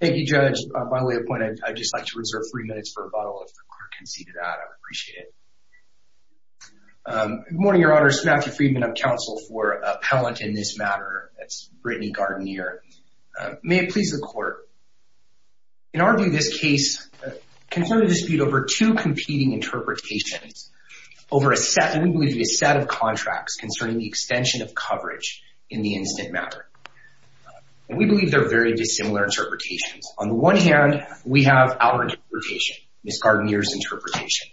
Thank you, Judge. By way of point, I'd just like to reserve three minutes for rebuttal if the clerk can see to that. I'd appreciate it. Good morning, Your Honour. It's Matthew Friedman of Council for Appellant in this matter. That's Brittney Gardineer. May it please the Court. In our view, this case concerned a dispute over two competing interpretations over a set, and we believe it to be a set, of contracts concerning the extension of coverage in the similar interpretations. On the one hand, we have our interpretation, Ms. Gardineer's interpretation.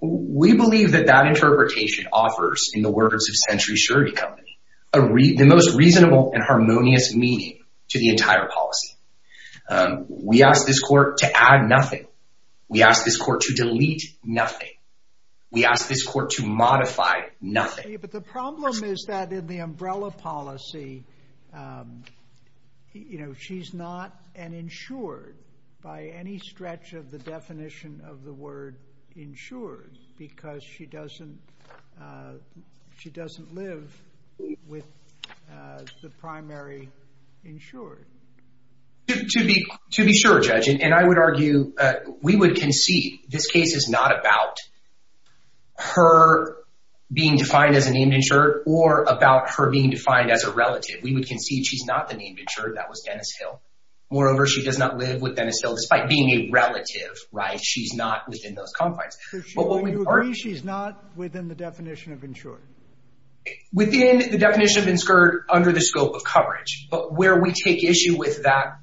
We believe that that interpretation offers, in the words of Century Surety Company, the most reasonable and harmonious meaning to the entire policy. We ask this Court to add nothing. We ask this Court to delete nothing. We ask this Court to modify nothing. But the problem is that in the umbrella policy, she's not an insured by any stretch of the definition of the word insured because she doesn't live with the primary insured. To be sure, Judge, and I would argue, we would concede this case is not about her being defined as a named insured or about her being defined as a relative. We would concede she's not the named insured. That was Dennis Hill. Moreover, she does not live with Dennis Hill, despite being a relative, right? She's not within those confines. Do you agree she's not within the definition of insured? Within the definition of insured under the scope of coverage. But where we take issue with that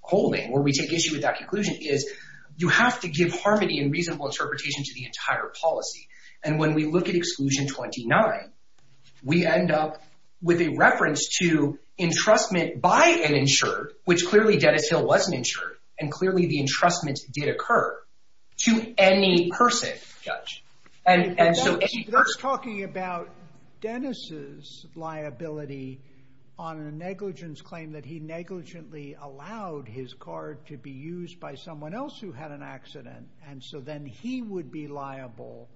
holding, where we take issue with that conclusion, is you have to give harmony and reasonable interpretation to the entire policy. And when we look at Exclusion 29, we end up with a reference to entrustment by an insured, which clearly Dennis Hill wasn't insured, and clearly the entrustment did occur, to any person, Judge. But that's talking about Dennis's liability on a negligence claim that he negligently allowed his card to be used by someone else who had an accident, and so then he would be liable.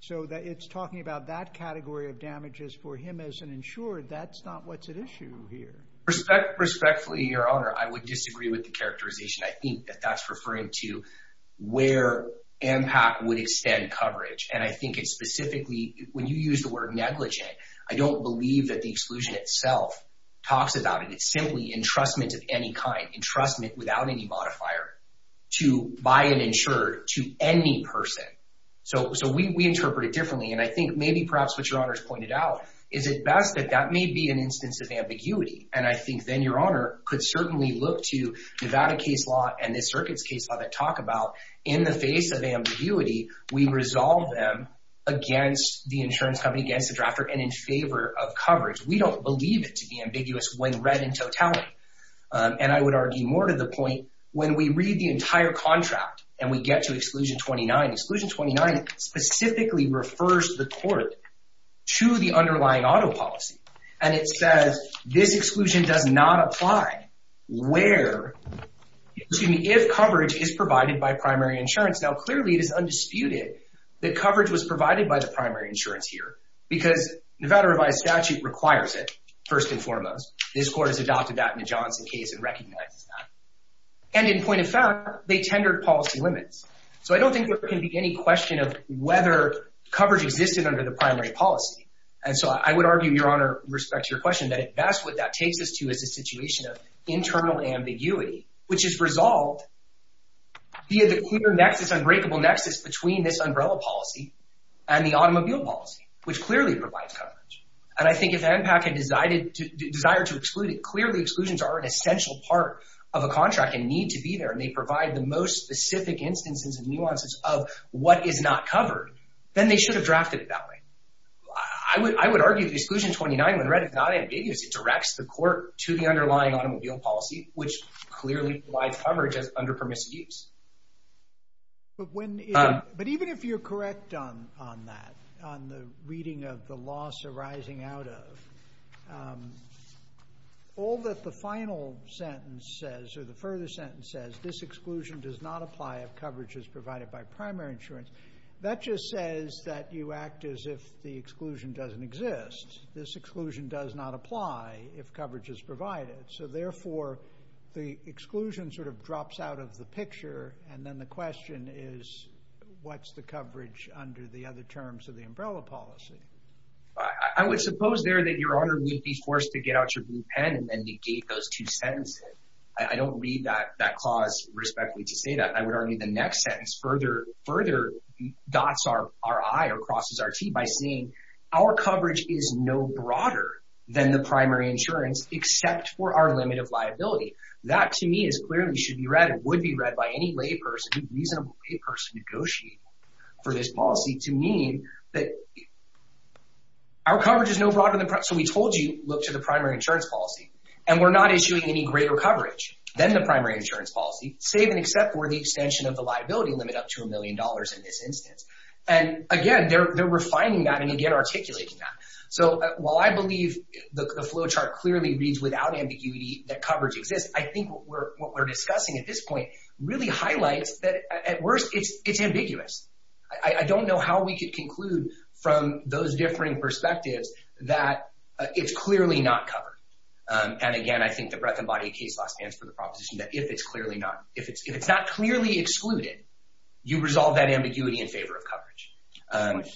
So it's talking about that category of damages for him as an insured. That's not what's at issue here. Respectfully, Your Honor, I would disagree with the characterization. I think that that's referring to where MPAC would extend coverage. And I think it's specifically, when you use the word negligent, I don't believe that the exclusion itself talks about it. It's simply entrustment of any kind, entrustment without any modifier, to buy an insured to any person. So we interpret it differently. And I think maybe perhaps what Your Honor has pointed out is it best that that may be an instance of ambiguity. And I think then Your Honor could certainly look to Nevada case law and this circuits case law that talk about, in the face of ambiguity, we resolve them against the insurance company, against the drafter, and in favor of coverage. We don't believe it to be ambiguous when read in totality. And I would argue more to the point, when we read the entire contract and we get to exclusion 29, exclusion 29 specifically refers the court to the underlying auto policy. And it says this exclusion does not apply where, excuse me, if coverage is provided by primary insurance. Now clearly it is undisputed that coverage was provided by the primary insurance here, because Nevada revised statute requires it, first and foremost. This court has adopted that in the Johnson case and recognizes that. And in point of fact, they tendered policy limits. So I don't think there can be any question of whether coverage existed under the primary policy. And so I would argue, Your Honor, respect to your question, that that's what that takes us to is a situation of internal ambiguity, which is resolved via the clear nexus, unbreakable nexus between this umbrella policy and the automobile policy, which clearly provides coverage. And I think if NPAC had desired to exclude it, clearly exclusions are an essential part of a contract and need to be there. And they provide the most specific instances and nuances of what is not I would argue the exclusion 29 when read is not ambiguous. It directs the court to the underlying automobile policy, which clearly provides coverage as under permissive use. But even if you're correct on that, on the reading of the loss arising out of, all that the final sentence says, or the further sentence says, this exclusion does not apply if the exclusion doesn't exist. This exclusion does not apply if coverage is provided. So therefore, the exclusion sort of drops out of the picture. And then the question is, what's the coverage under the other terms of the umbrella policy? I would suppose there that Your Honor would be forced to get out your blue pen and negate those two sentences. I don't read that clause respectfully to say that. I would argue the next sentence further dots our I or crosses our T by saying our coverage is no broader than the primary insurance except for our limit of liability. That to me is clearly should be read and would be read by any lay person, reasonable lay person negotiating for this policy to mean that our coverage is no broader than the so we told you look to the primary insurance policy and we're not issuing any greater coverage than the primary insurance policy, save and except for the extension of the liability limit up to a million dollars in this instance. And again, they're refining that and again, articulating that. So while I believe the flow chart clearly reads without ambiguity that coverage exists, I think what we're discussing at this point really highlights that at worst it's ambiguous. I don't know how we could conclude from those differing perspectives that it's clearly not covered. And again, I think the breath and body case law stands for the proposition that if it's clearly not, if it's not clearly excluded, you resolve that ambiguity in favor of coverage.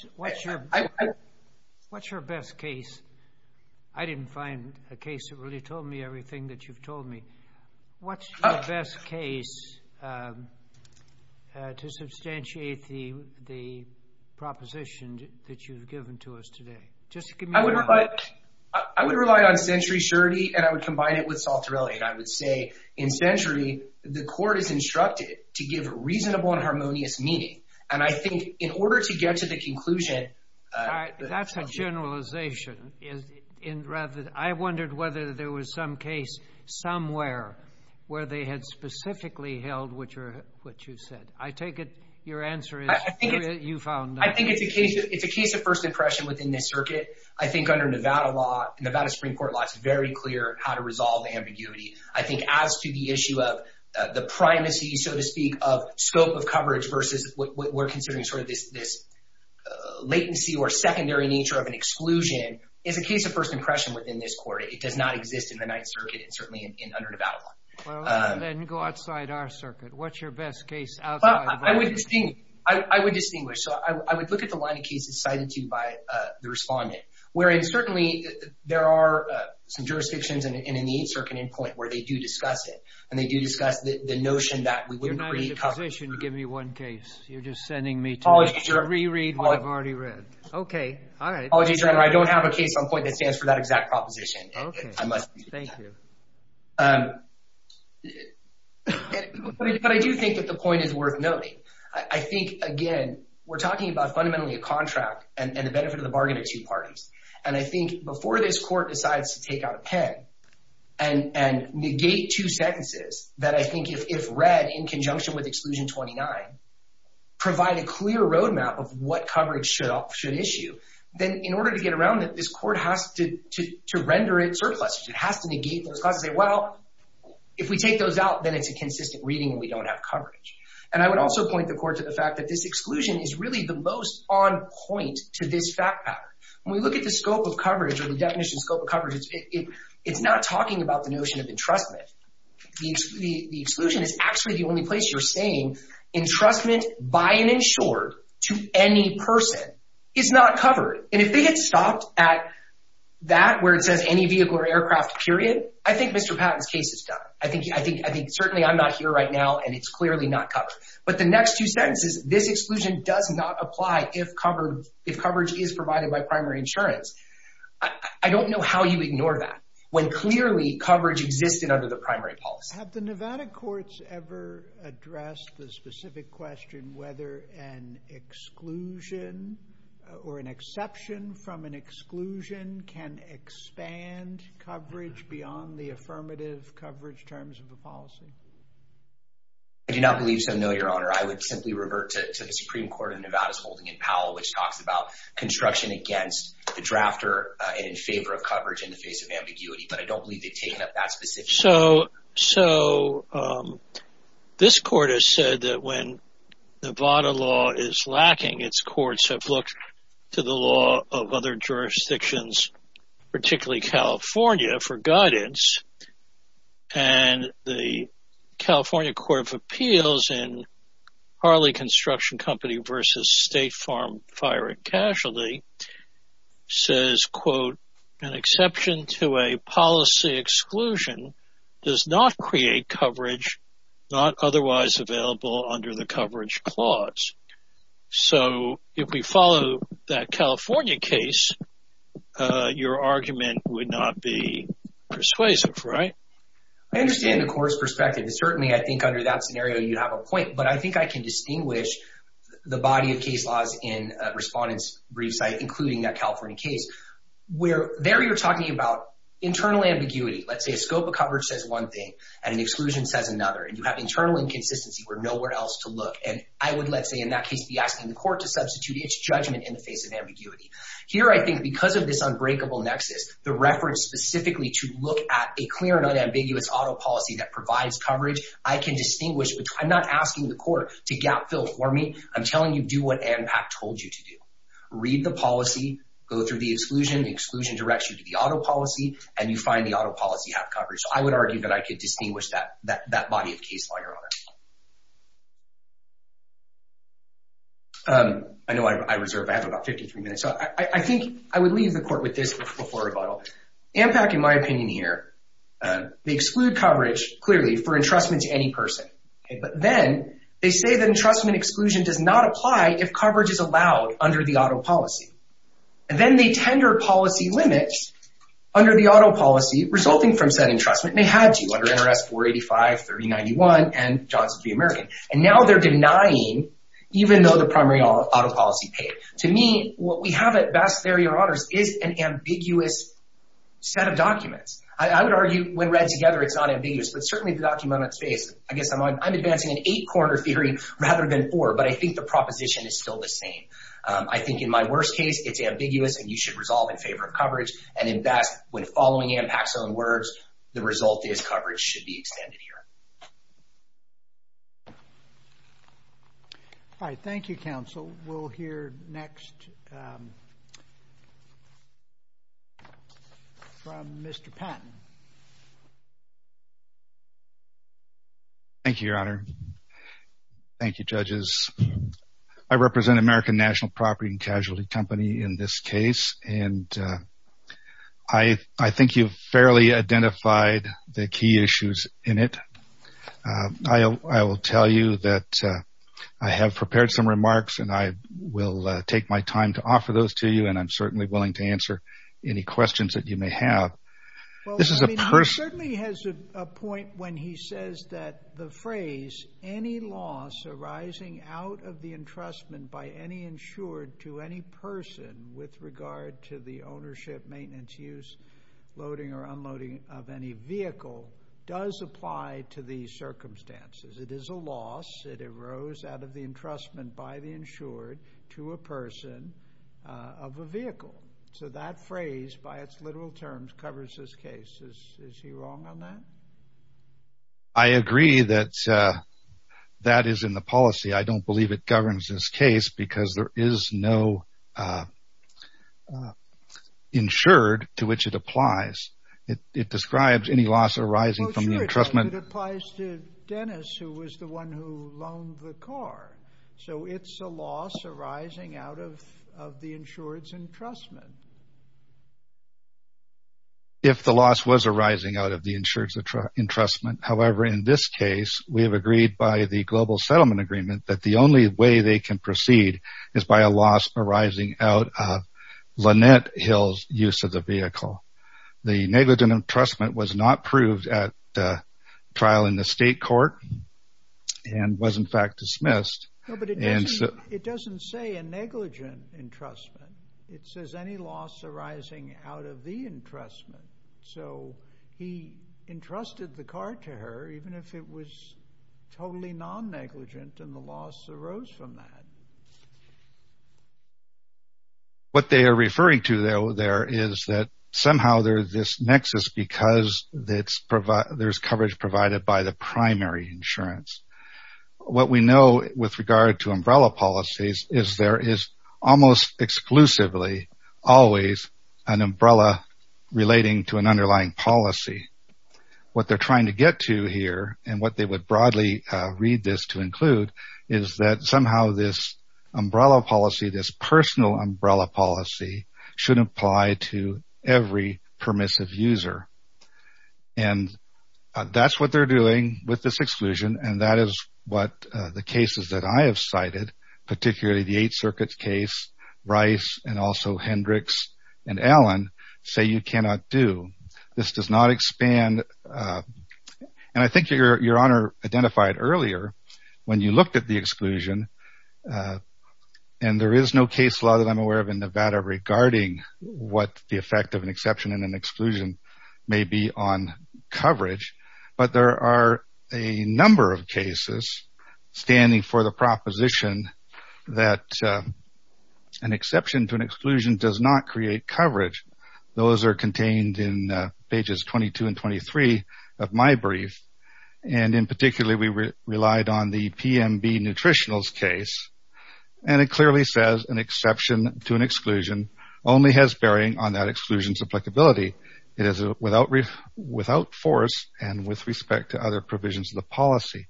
What's your best case? I didn't find a case that really told me everything that you've told me. What's your best case to substantiate the proposition that you've given to us today? I would rely on century surety and I would combine it with Salterelli and I would say in century, the court is instructed to give reasonable and harmonious meaning. And I think in order to get to the conclusion, that's a generalization. I wondered whether there was some case somewhere where they had specifically held what you said. I take it your answer is I think it's a case of first impression within this circuit. I think under Nevada law, Nevada Supreme Court law, it's very clear how to resolve ambiguity. I think as to the issue of the primacy, so to speak, of scope of coverage versus what we're considering sort of this latency or secondary nature of an exclusion is a case of first impression within this court. It does not exist in the Ninth Circuit and certainly in under Nevada law. Then go outside our circuit. What's your best case? I would distinguish. So I would look at the line of cases cited to you by the respondent, wherein certainly there are some jurisdictions and in the Eighth Circuit endpoint where they do discuss it and they do discuss the notion that we wouldn't create coverage. Give me one case. You're just sending me to reread what I've already read. Okay. All right. I don't have a case on point that stands for that exact proposition. Okay. Thank you. But I do think that the point is worth noting. I think, again, we're talking about fundamentally a contract and the benefit of the bargain of two parties. And I think before this court decides to take out a pen and negate two sentences that I think if read in conjunction with Exclusion 29, provide a clear roadmap of what coverage should issue, then in order to get around it, this court has to render it surplus. It has to negate those clauses and say, well, if we take those out, then it's a consistent reading and we don't have coverage. And I would also point the court to the fact that this exclusion is really the most on point to this fact pattern. When we look at the scope of coverage or the definition scope of coverage, it's not talking about the notion of entrustment. The exclusion is actually the only place you're saying entrustment by an insured to any person is not covered. And if they had stopped at that where it says any vehicle or aircraft period, I think Mr. Patton's case is done. I think certainly I'm not here right now, and it's clearly not covered. But the next two sentences, this exclusion does not apply if coverage is provided by primary insurance. I don't know how you ignore that when clearly coverage existed under the primary policy. Have the Nevada courts ever addressed the from an exclusion can expand coverage beyond the affirmative coverage terms of the policy? I do not believe so. No, Your Honor, I would simply revert to the Supreme Court of Nevada's holding in Powell, which talks about construction against the drafter in favor of coverage in the face of ambiguity. But I don't believe they've taken up that specific. So so this court has said that when Nevada law is lacking, its courts have looked to the law of other jurisdictions, particularly California, for guidance. And the California Court of Appeals in Harley Construction Company versus State Farm Firing Casualty says, quote, an exception to a policy exclusion does not create coverage, not otherwise available under the coverage clause. So if we follow that California case, your argument would not be persuasive, right? I understand the court's perspective. Certainly, I think under that scenario, you have a point. But I think I can distinguish the body of case laws in respondents brief site, including that California case, where there you're talking about internal ambiguity. Let's say a scope of coverage says one thing and an exclusion says another. And you have internal inconsistency where nowhere else to look. And I would, let's say, in that case, be asking the court to substitute its judgment in the face of ambiguity. Here, I think because of this unbreakable nexus, the reference specifically to look at a clear and unambiguous auto policy that provides coverage, I can distinguish. I'm not asking the court to gap fill for me. I'm telling you, do what ANPAC told you to do. Read the policy, go through the exclusion, the exclusion directs you to the auto policy, and you find the auto policy have coverage. So I would argue that I could distinguish that body of case law, Your Honor. I know I reserve, I have about 53 minutes. So I think I would leave the court with this before rebuttal. ANPAC, in my opinion here, they exclude coverage clearly for entrustment to any person. But then they say that entrustment exclusion does not apply if coverage is allowed under the auto policy. And then they tender policy limits under the auto policy resulting from said entrustment. And they had to, under NRS 485, 3091, and Johnson v. American. And now they're denying, even though the primary auto policy paid. To me, what we have at best there, Your Honors, is an ambiguous set of documents. I would argue when read together, it's not ambiguous. But certainly the document on its face, I guess I'm advancing an eight-corner theory rather than four. But I think the proposition is still the same. I think in my worst case, it's ambiguous and you should resolve in favor of coverage. And in best, when following ANPAC's own words, the result is coverage should be extended here. All right. Thank you, counsel. We'll hear next from Mr. Patton. Thank you, Your Honor. Thank you, judges. I represent American National Property and Casualty Company in this case. And I think you've fairly identified the key issues in it. I will tell you that I have prepared some remarks and I will take my time to offer those to you. And I'm certainly to answer any questions that you may have. Well, I mean, he certainly has a point when he says that the phrase, any loss arising out of the entrustment by any insured to any person with regard to the ownership, maintenance, use, loading, or unloading of any vehicle does apply to these circumstances. It is a loss. It arose out of the entrustment by the insured to a person of a vehicle. So that phrase, by its literal terms, covers this case. Is he wrong on that? I agree that that is in the policy. I don't believe it governs this case because there is no insured to which it applies. It describes any loss arising from the entrustment. It applies to Dennis who was the one who loaned the car. So it's a loss arising out of the insured's entrustment. If the loss was arising out of the insured's entrustment. However, in this case, we have agreed by the Global Settlement Agreement that the only way they can proceed is by a loss arising out of Lynette Hill's use of the vehicle. The negligent entrustment was not proved at trial in the state court and was in fact dismissed. But it doesn't say a negligent entrustment. It says any loss arising out of the entrustment. So he entrusted the car to her even if it was totally non-negligent and the loss arose from that. What they are referring to though there is that somehow there's this nexus because there's coverage provided by the primary insurance. What we know with regard to umbrella policies is there is almost exclusively always an umbrella relating to an underlying policy. What they're trying to get to here and what they would broadly read this to include is that somehow this umbrella policy, this personal umbrella policy should apply to every permissive user. And that's what they're doing with this exclusion and that is what the cases that I have cited, particularly the Eighth Circuit case, Rice and also Hendricks and Allen say you cannot do. This does not expand and I think your honor identified earlier when you looked at the exclusion and there is no case law that I'm aware of in Nevada regarding what the effect of an exception and an exclusion may be on coverage. But there are a number of cases standing for the proposition that an exception to an exclusion does not create coverage. Those are contained in pages 22 and 23 of my brief and in particular we relied on the PMB nutritionals case and it clearly says an exception to an exclusion only has bearing on that exclusions applicability. It is without force and with respect to other provisions of the policy.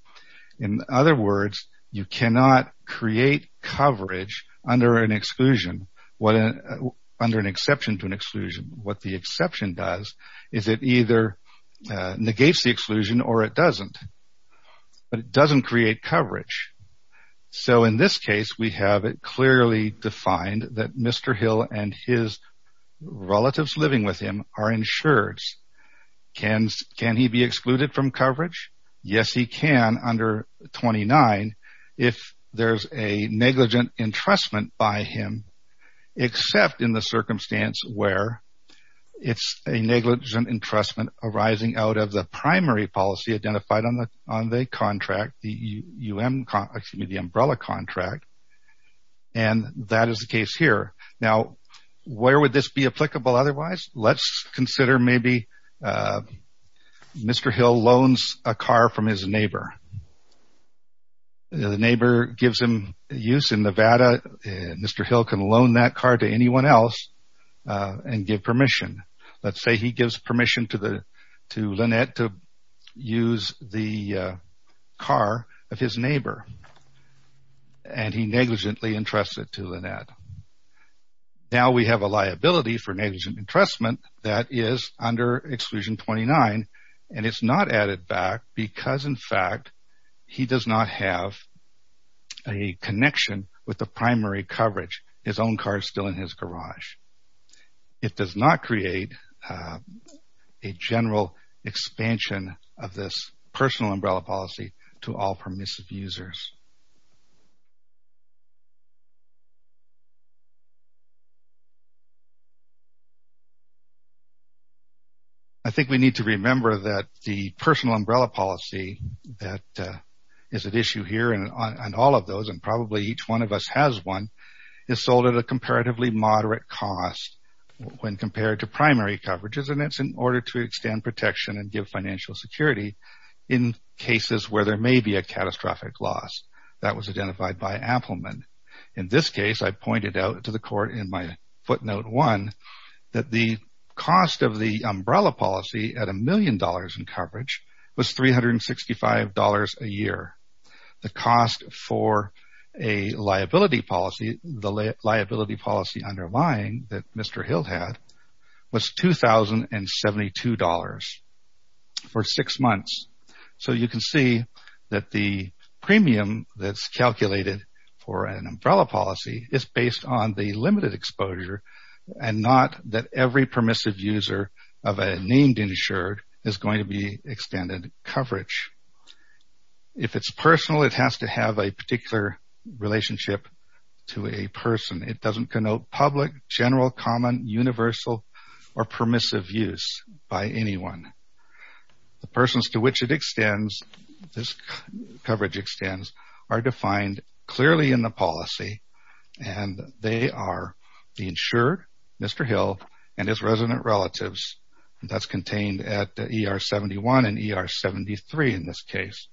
In other words, you cannot create coverage under an exception to an exclusion. What the exception does is it either negates the exclusion or it doesn't. But it doesn't create coverage. So in this case we have it clearly defined that Mr. Hill and his relatives living with him are excluded from coverage. Yes, he can under 29 if there is a negligent entrustment by him except in the circumstance where it's a negligent entrustment arising out of the primary policy identified on the umbrella contract and that is the case here. Now where would this be applicable otherwise? Let's consider maybe Mr. Hill loans a car from his neighbor. The neighbor gives him use in Nevada and Mr. Hill can loan that car to anyone else and give permission. Let's say he gives permission to Lynette to use the car of his neighbor and he negligently entrusts it to Lynette. Now we have a liability for negligent entrustment that is under exclusion 29 and it's not added back because in fact he does not have a connection with the primary coverage. His own car is still in his garage. It does not create a general expansion of this personal umbrella policy to all permissive users. I think we need to remember that the personal umbrella policy that is at issue here and on all of those and probably each one of us has one is sold at a comparatively moderate cost when compared to primary coverages and that's in order to extend protection and give financial security in cases where there may be a catastrophic loss that was identified by Appleman. In this case, I pointed out to the court in my footnote one that the cost of the umbrella policy at a million dollars in coverage was $365 a year. The cost for a liability policy, the liability policy underlying that Mr. Hill had was $2,072 for six months. So you can see that the premium that's calculated for an umbrella policy is based on the limited exposure and not that every permissive user of a named insured is going to be extended coverage. If it's personal, it has to have a particular relationship to a person. It doesn't connote public, general, common, universal or clearly in the policy and they are the insured Mr. Hill and his resident relatives and that's contained at ER 71 and ER 73 in this case.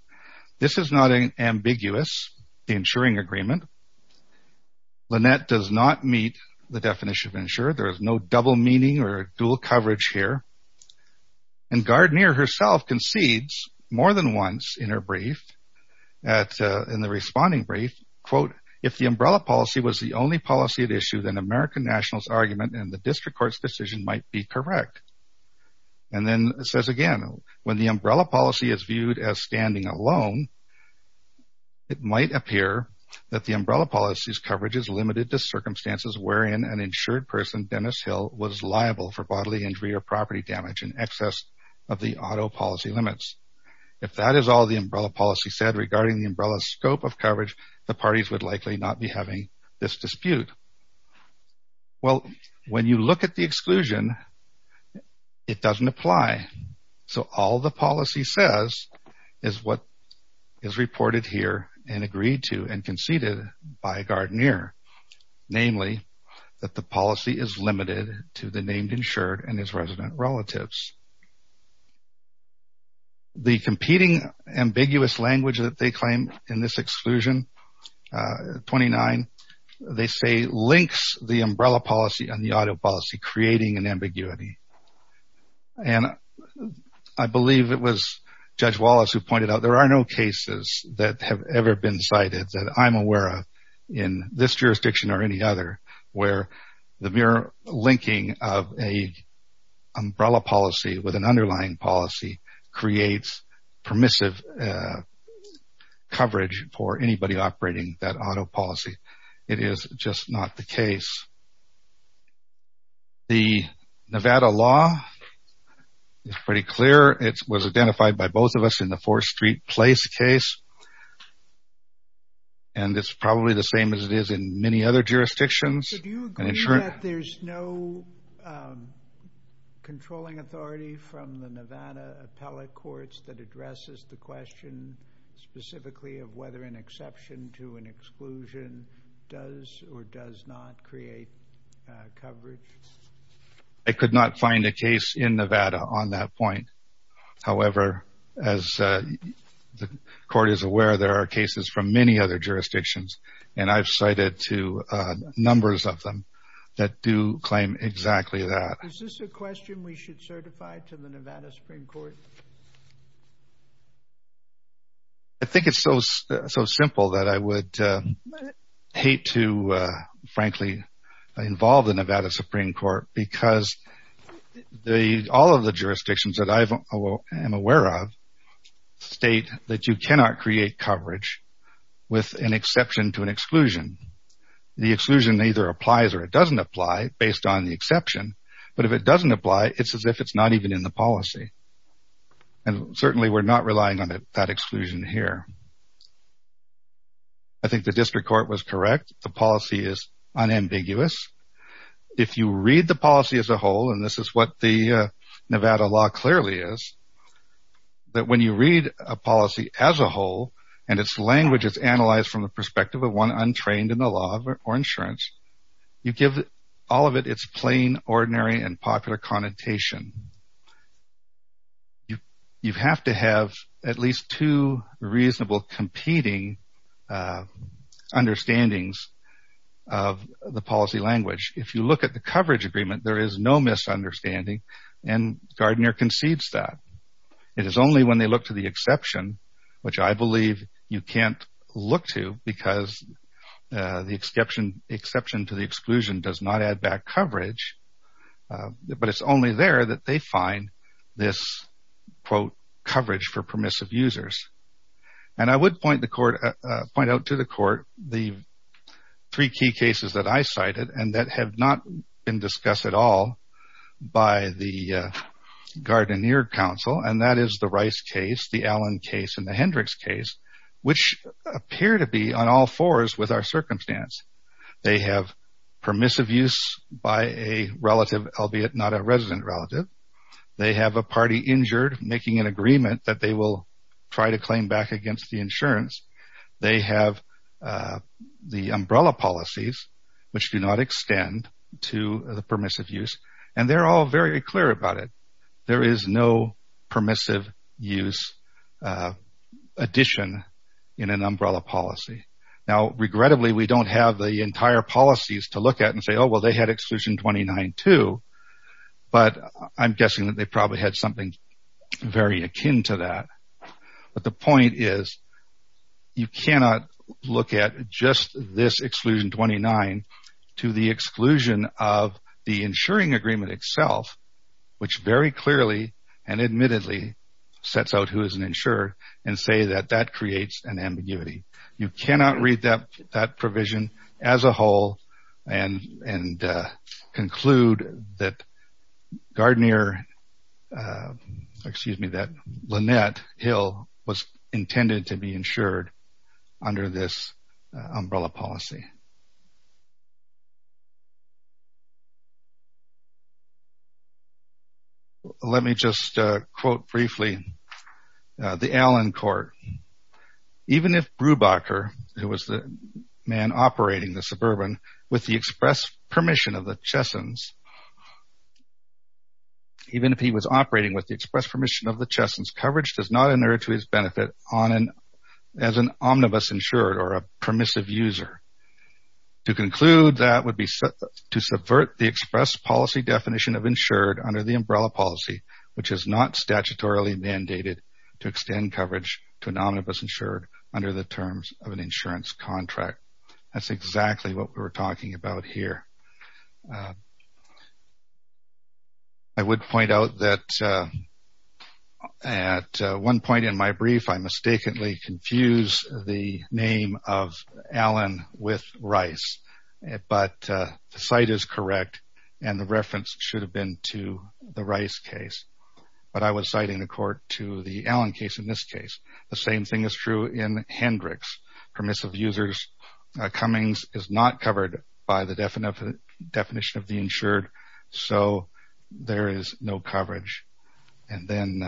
This is not an ambiguous the insuring agreement. Lynette does not meet the definition of insured. There is no double meaning or dual coverage here and Gardner herself concedes more than once in her brief, in the responding brief, quote, if the umbrella policy was the only policy at issue, then American National's argument and the district court's decision might be correct and then it says again, when the umbrella policy is viewed as standing alone, it might appear that the umbrella policy's coverage is limited to circumstances wherein an insured person, Dennis Hill, was liable for bodily injury or property damage in excess of the auto policy limits. If that is all the umbrella policy said regarding the umbrella scope of coverage, the parties would likely not be having this dispute. Well, when you look at the exclusion, it doesn't apply. So, all the policy says is what is reported here and agreed to and conceded by Gardner, namely that the policy is limited to the named insured and his resident relatives. The competing ambiguous language that they claim in this exclusion, 29, they say links the umbrella policy and the auto policy creating an ambiguity and I believe it was Judge Wallace who pointed out there are no cases that have ever been cited that I'm aware of in this jurisdiction or any other where the mere linking of an umbrella policy with an underlying policy creates permissive coverage for anybody operating that auto policy. It is just not the case. The Nevada law is pretty clear. It was identified by both of us in the 4th Street Place case and it's probably the same as it is in many other jurisdictions. So, do you agree that there's no controlling authority from the Nevada appellate courts that addresses the question specifically of whether an exception to an exclusion does or does not create coverage? I could not find a case in Nevada on that point. However, as the court is aware, there are cases from many other jurisdictions and I've cited to numbers of them that do claim exactly that. Is this a question we should certify to the Nevada Supreme Court? I think it's so simple that I would hate to, frankly, involve the Nevada Supreme Court because all of the jurisdictions that I am aware of state that you cannot create coverage with an exception to an exclusion. The exclusion either applies or it doesn't apply based on the exception, but if it doesn't apply, it's as if it's not even in the policy. And certainly we're not relying on that exclusion here. I think the district court was correct. The policy is unambiguous. If you read the policy as a whole, and this is what the Nevada law clearly is, that when you read a policy as a whole and its language is analyzed from the perspective of one untrained in the law or insurance, you give all of it its plain, ordinary, and popular connotation. You have to have at least two reasonable competing understandings of the policy language. If you look at the coverage agreement, there is no misunderstanding and Gardner concedes that. It is only when they look to the exception, which I believe you can't look to because the exception to the exclusion does not add back coverage, but it's only there that they find this, quote, coverage for permissive users. And I would point out to the court the three key cases that I cited and that have not been discussed at all by the Gardner council, and that is the Rice case, the Allen case, and the Hendricks case, which appear to be on all fours with our circumstance. They have permissive use by a relative, albeit not a resident relative. They have a party injured making an agreement that they will try to claim back against the insurance. They have the umbrella policies, which do not extend to the permissive use, and they're all very clear about it. There is no permissive use addition in an umbrella policy. Now, regrettably, we don't have the entire policies to look at and say, oh, well, they had exclusion 29 too, but I'm guessing that they probably had something very akin to that. But the point is, you cannot look at just this exclusion 29 to the exclusion of the insuring agreement itself, which very clearly and admittedly sets out who is an insurer and say that that creates an ambiguity. You cannot read that provision as a whole and conclude that Gardner, excuse me, that Lynette Hill was intended to be insured under this umbrella policy. Let me just quote briefly the Allen court. Even if Brubacher, who was the man operating the suburban with the express permission of the Chessons, even if he was operating with the express permission of the Chessons, coverage does not inert to his benefit as an omnibus insured or a permissive user. To conclude, that would be to subvert the express policy definition of insured under the umbrella policy, which is not statutorily mandated to extend coverage to an omnibus insured under the terms of an insurance contract. That's exactly what we were talking about here. I would point out that at one point in my brief, I mistakenly confused the name of Allen with Rice, but the site is correct and the reference should have been to the Rice case, but I was citing the court to the Allen case in this case. The same thing is true in Hendricks. Permissive users, Cummings is not covered by the definition of the insured, so there is no coverage. Then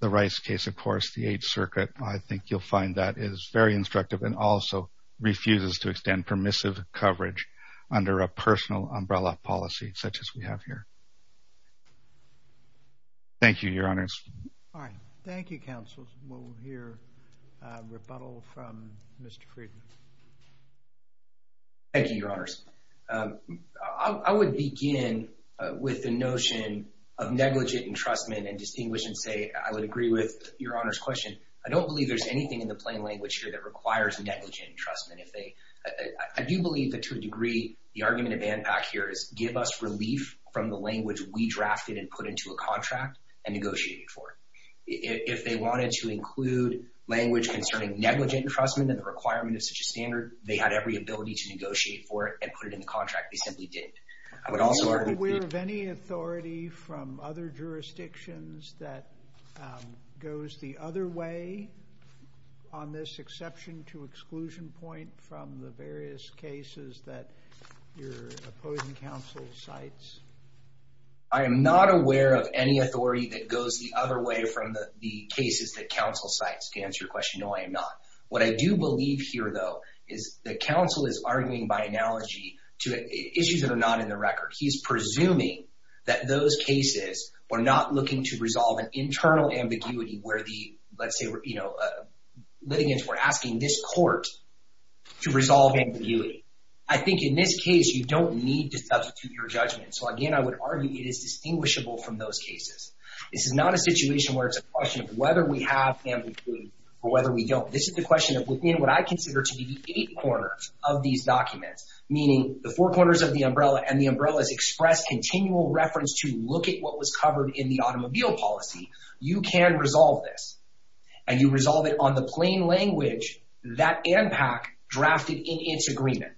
the Rice case, of course, the Eighth Circuit, I think you'll find that is very instructive and also refuses to extend permissive coverage under a personal umbrella policy such as we have here. Thank you, your honors. Thank you, counsel. We'll hear rebuttal from Mr. Friedman. Thank you, your honors. I would begin with the notion of negligent entrustment and distinguish and say I would agree with your honors question. I don't believe there's anything in the plain language here that requires negligent entrustment. I do believe that to a degree, the argument of ANPAC here is give us relief from the language we drafted and put into a contract and negotiated for. If they wanted to include language concerning negligent entrustment and requirement of such a standard, they had every ability to negotiate for it and put it in the contract. They simply didn't. I would also argue... Are you aware of any authority from other jurisdictions that goes the other way on this exception to exclusion point from the various cases that your opposing counsel cites? I am not aware of any authority that goes the other way from the cases that counsel cites to answer your question. No, I am not. What I do believe here, though, is that counsel is arguing by analogy to issues that are not in the record. He's presuming that those cases were not looking to resolve an internal ambiguity where the, let's say, litigants were asking this court to resolve ambiguity. I think in this case, you don't need to substitute your judgment. So again, I would argue it is distinguishable from those cases. This is not a situation where it's a question of whether we have ambiguity or whether we don't. This is the question of within what I consider to be the eight corners of these documents, meaning the four corners of the umbrella and the umbrellas express continual reference to look at what was covered in the automobile policy. You can resolve this and you resolve it on the plain language that ANPAC drafted in its agreement.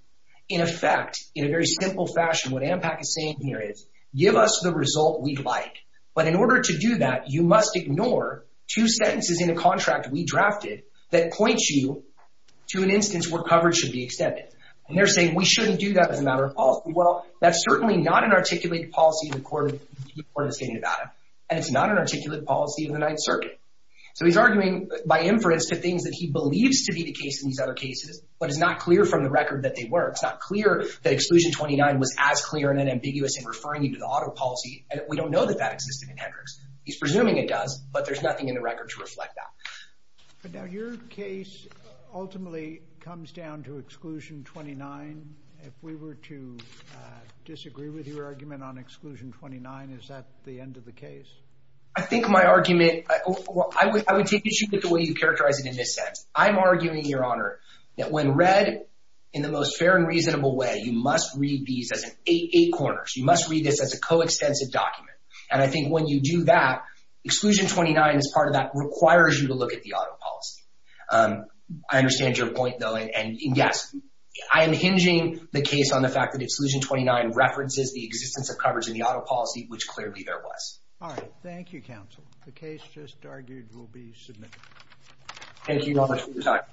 In effect, in a very simple fashion, what ANPAC is giving us the result we'd like. But in order to do that, you must ignore two sentences in a contract we drafted that points you to an instance where coverage should be extended. And they're saying we shouldn't do that as a matter of policy. Well, that's certainly not an articulated policy in the court of the state of Nevada, and it's not an articulated policy in the Ninth Circuit. So he's arguing by inference to things that he believes to be the case in these other cases, but it's not clear from the record that they were. It's not clear that exclusion 29 was as clear and ambiguous in referring you to the auto policy. And we don't know that that existed in Hendricks. He's presuming it does, but there's nothing in the record to reflect that. But now your case ultimately comes down to exclusion 29. If we were to disagree with your argument on exclusion 29, is that the end of the case? I think my argument, I would take issue with the way you characterize it in this sense. I'm arguing, Your Honor, that when read in the most fair and reasonable way, you must read these as eight corners. You must read this as a coextensive document. And I think when you do that, exclusion 29 as part of that requires you to look at the auto policy. I understand your point, though, and yes, I am hinging the case on the fact that exclusion 29 references the existence of coverage in the auto policy, which clearly there was. All right. Thank you, counsel. The case just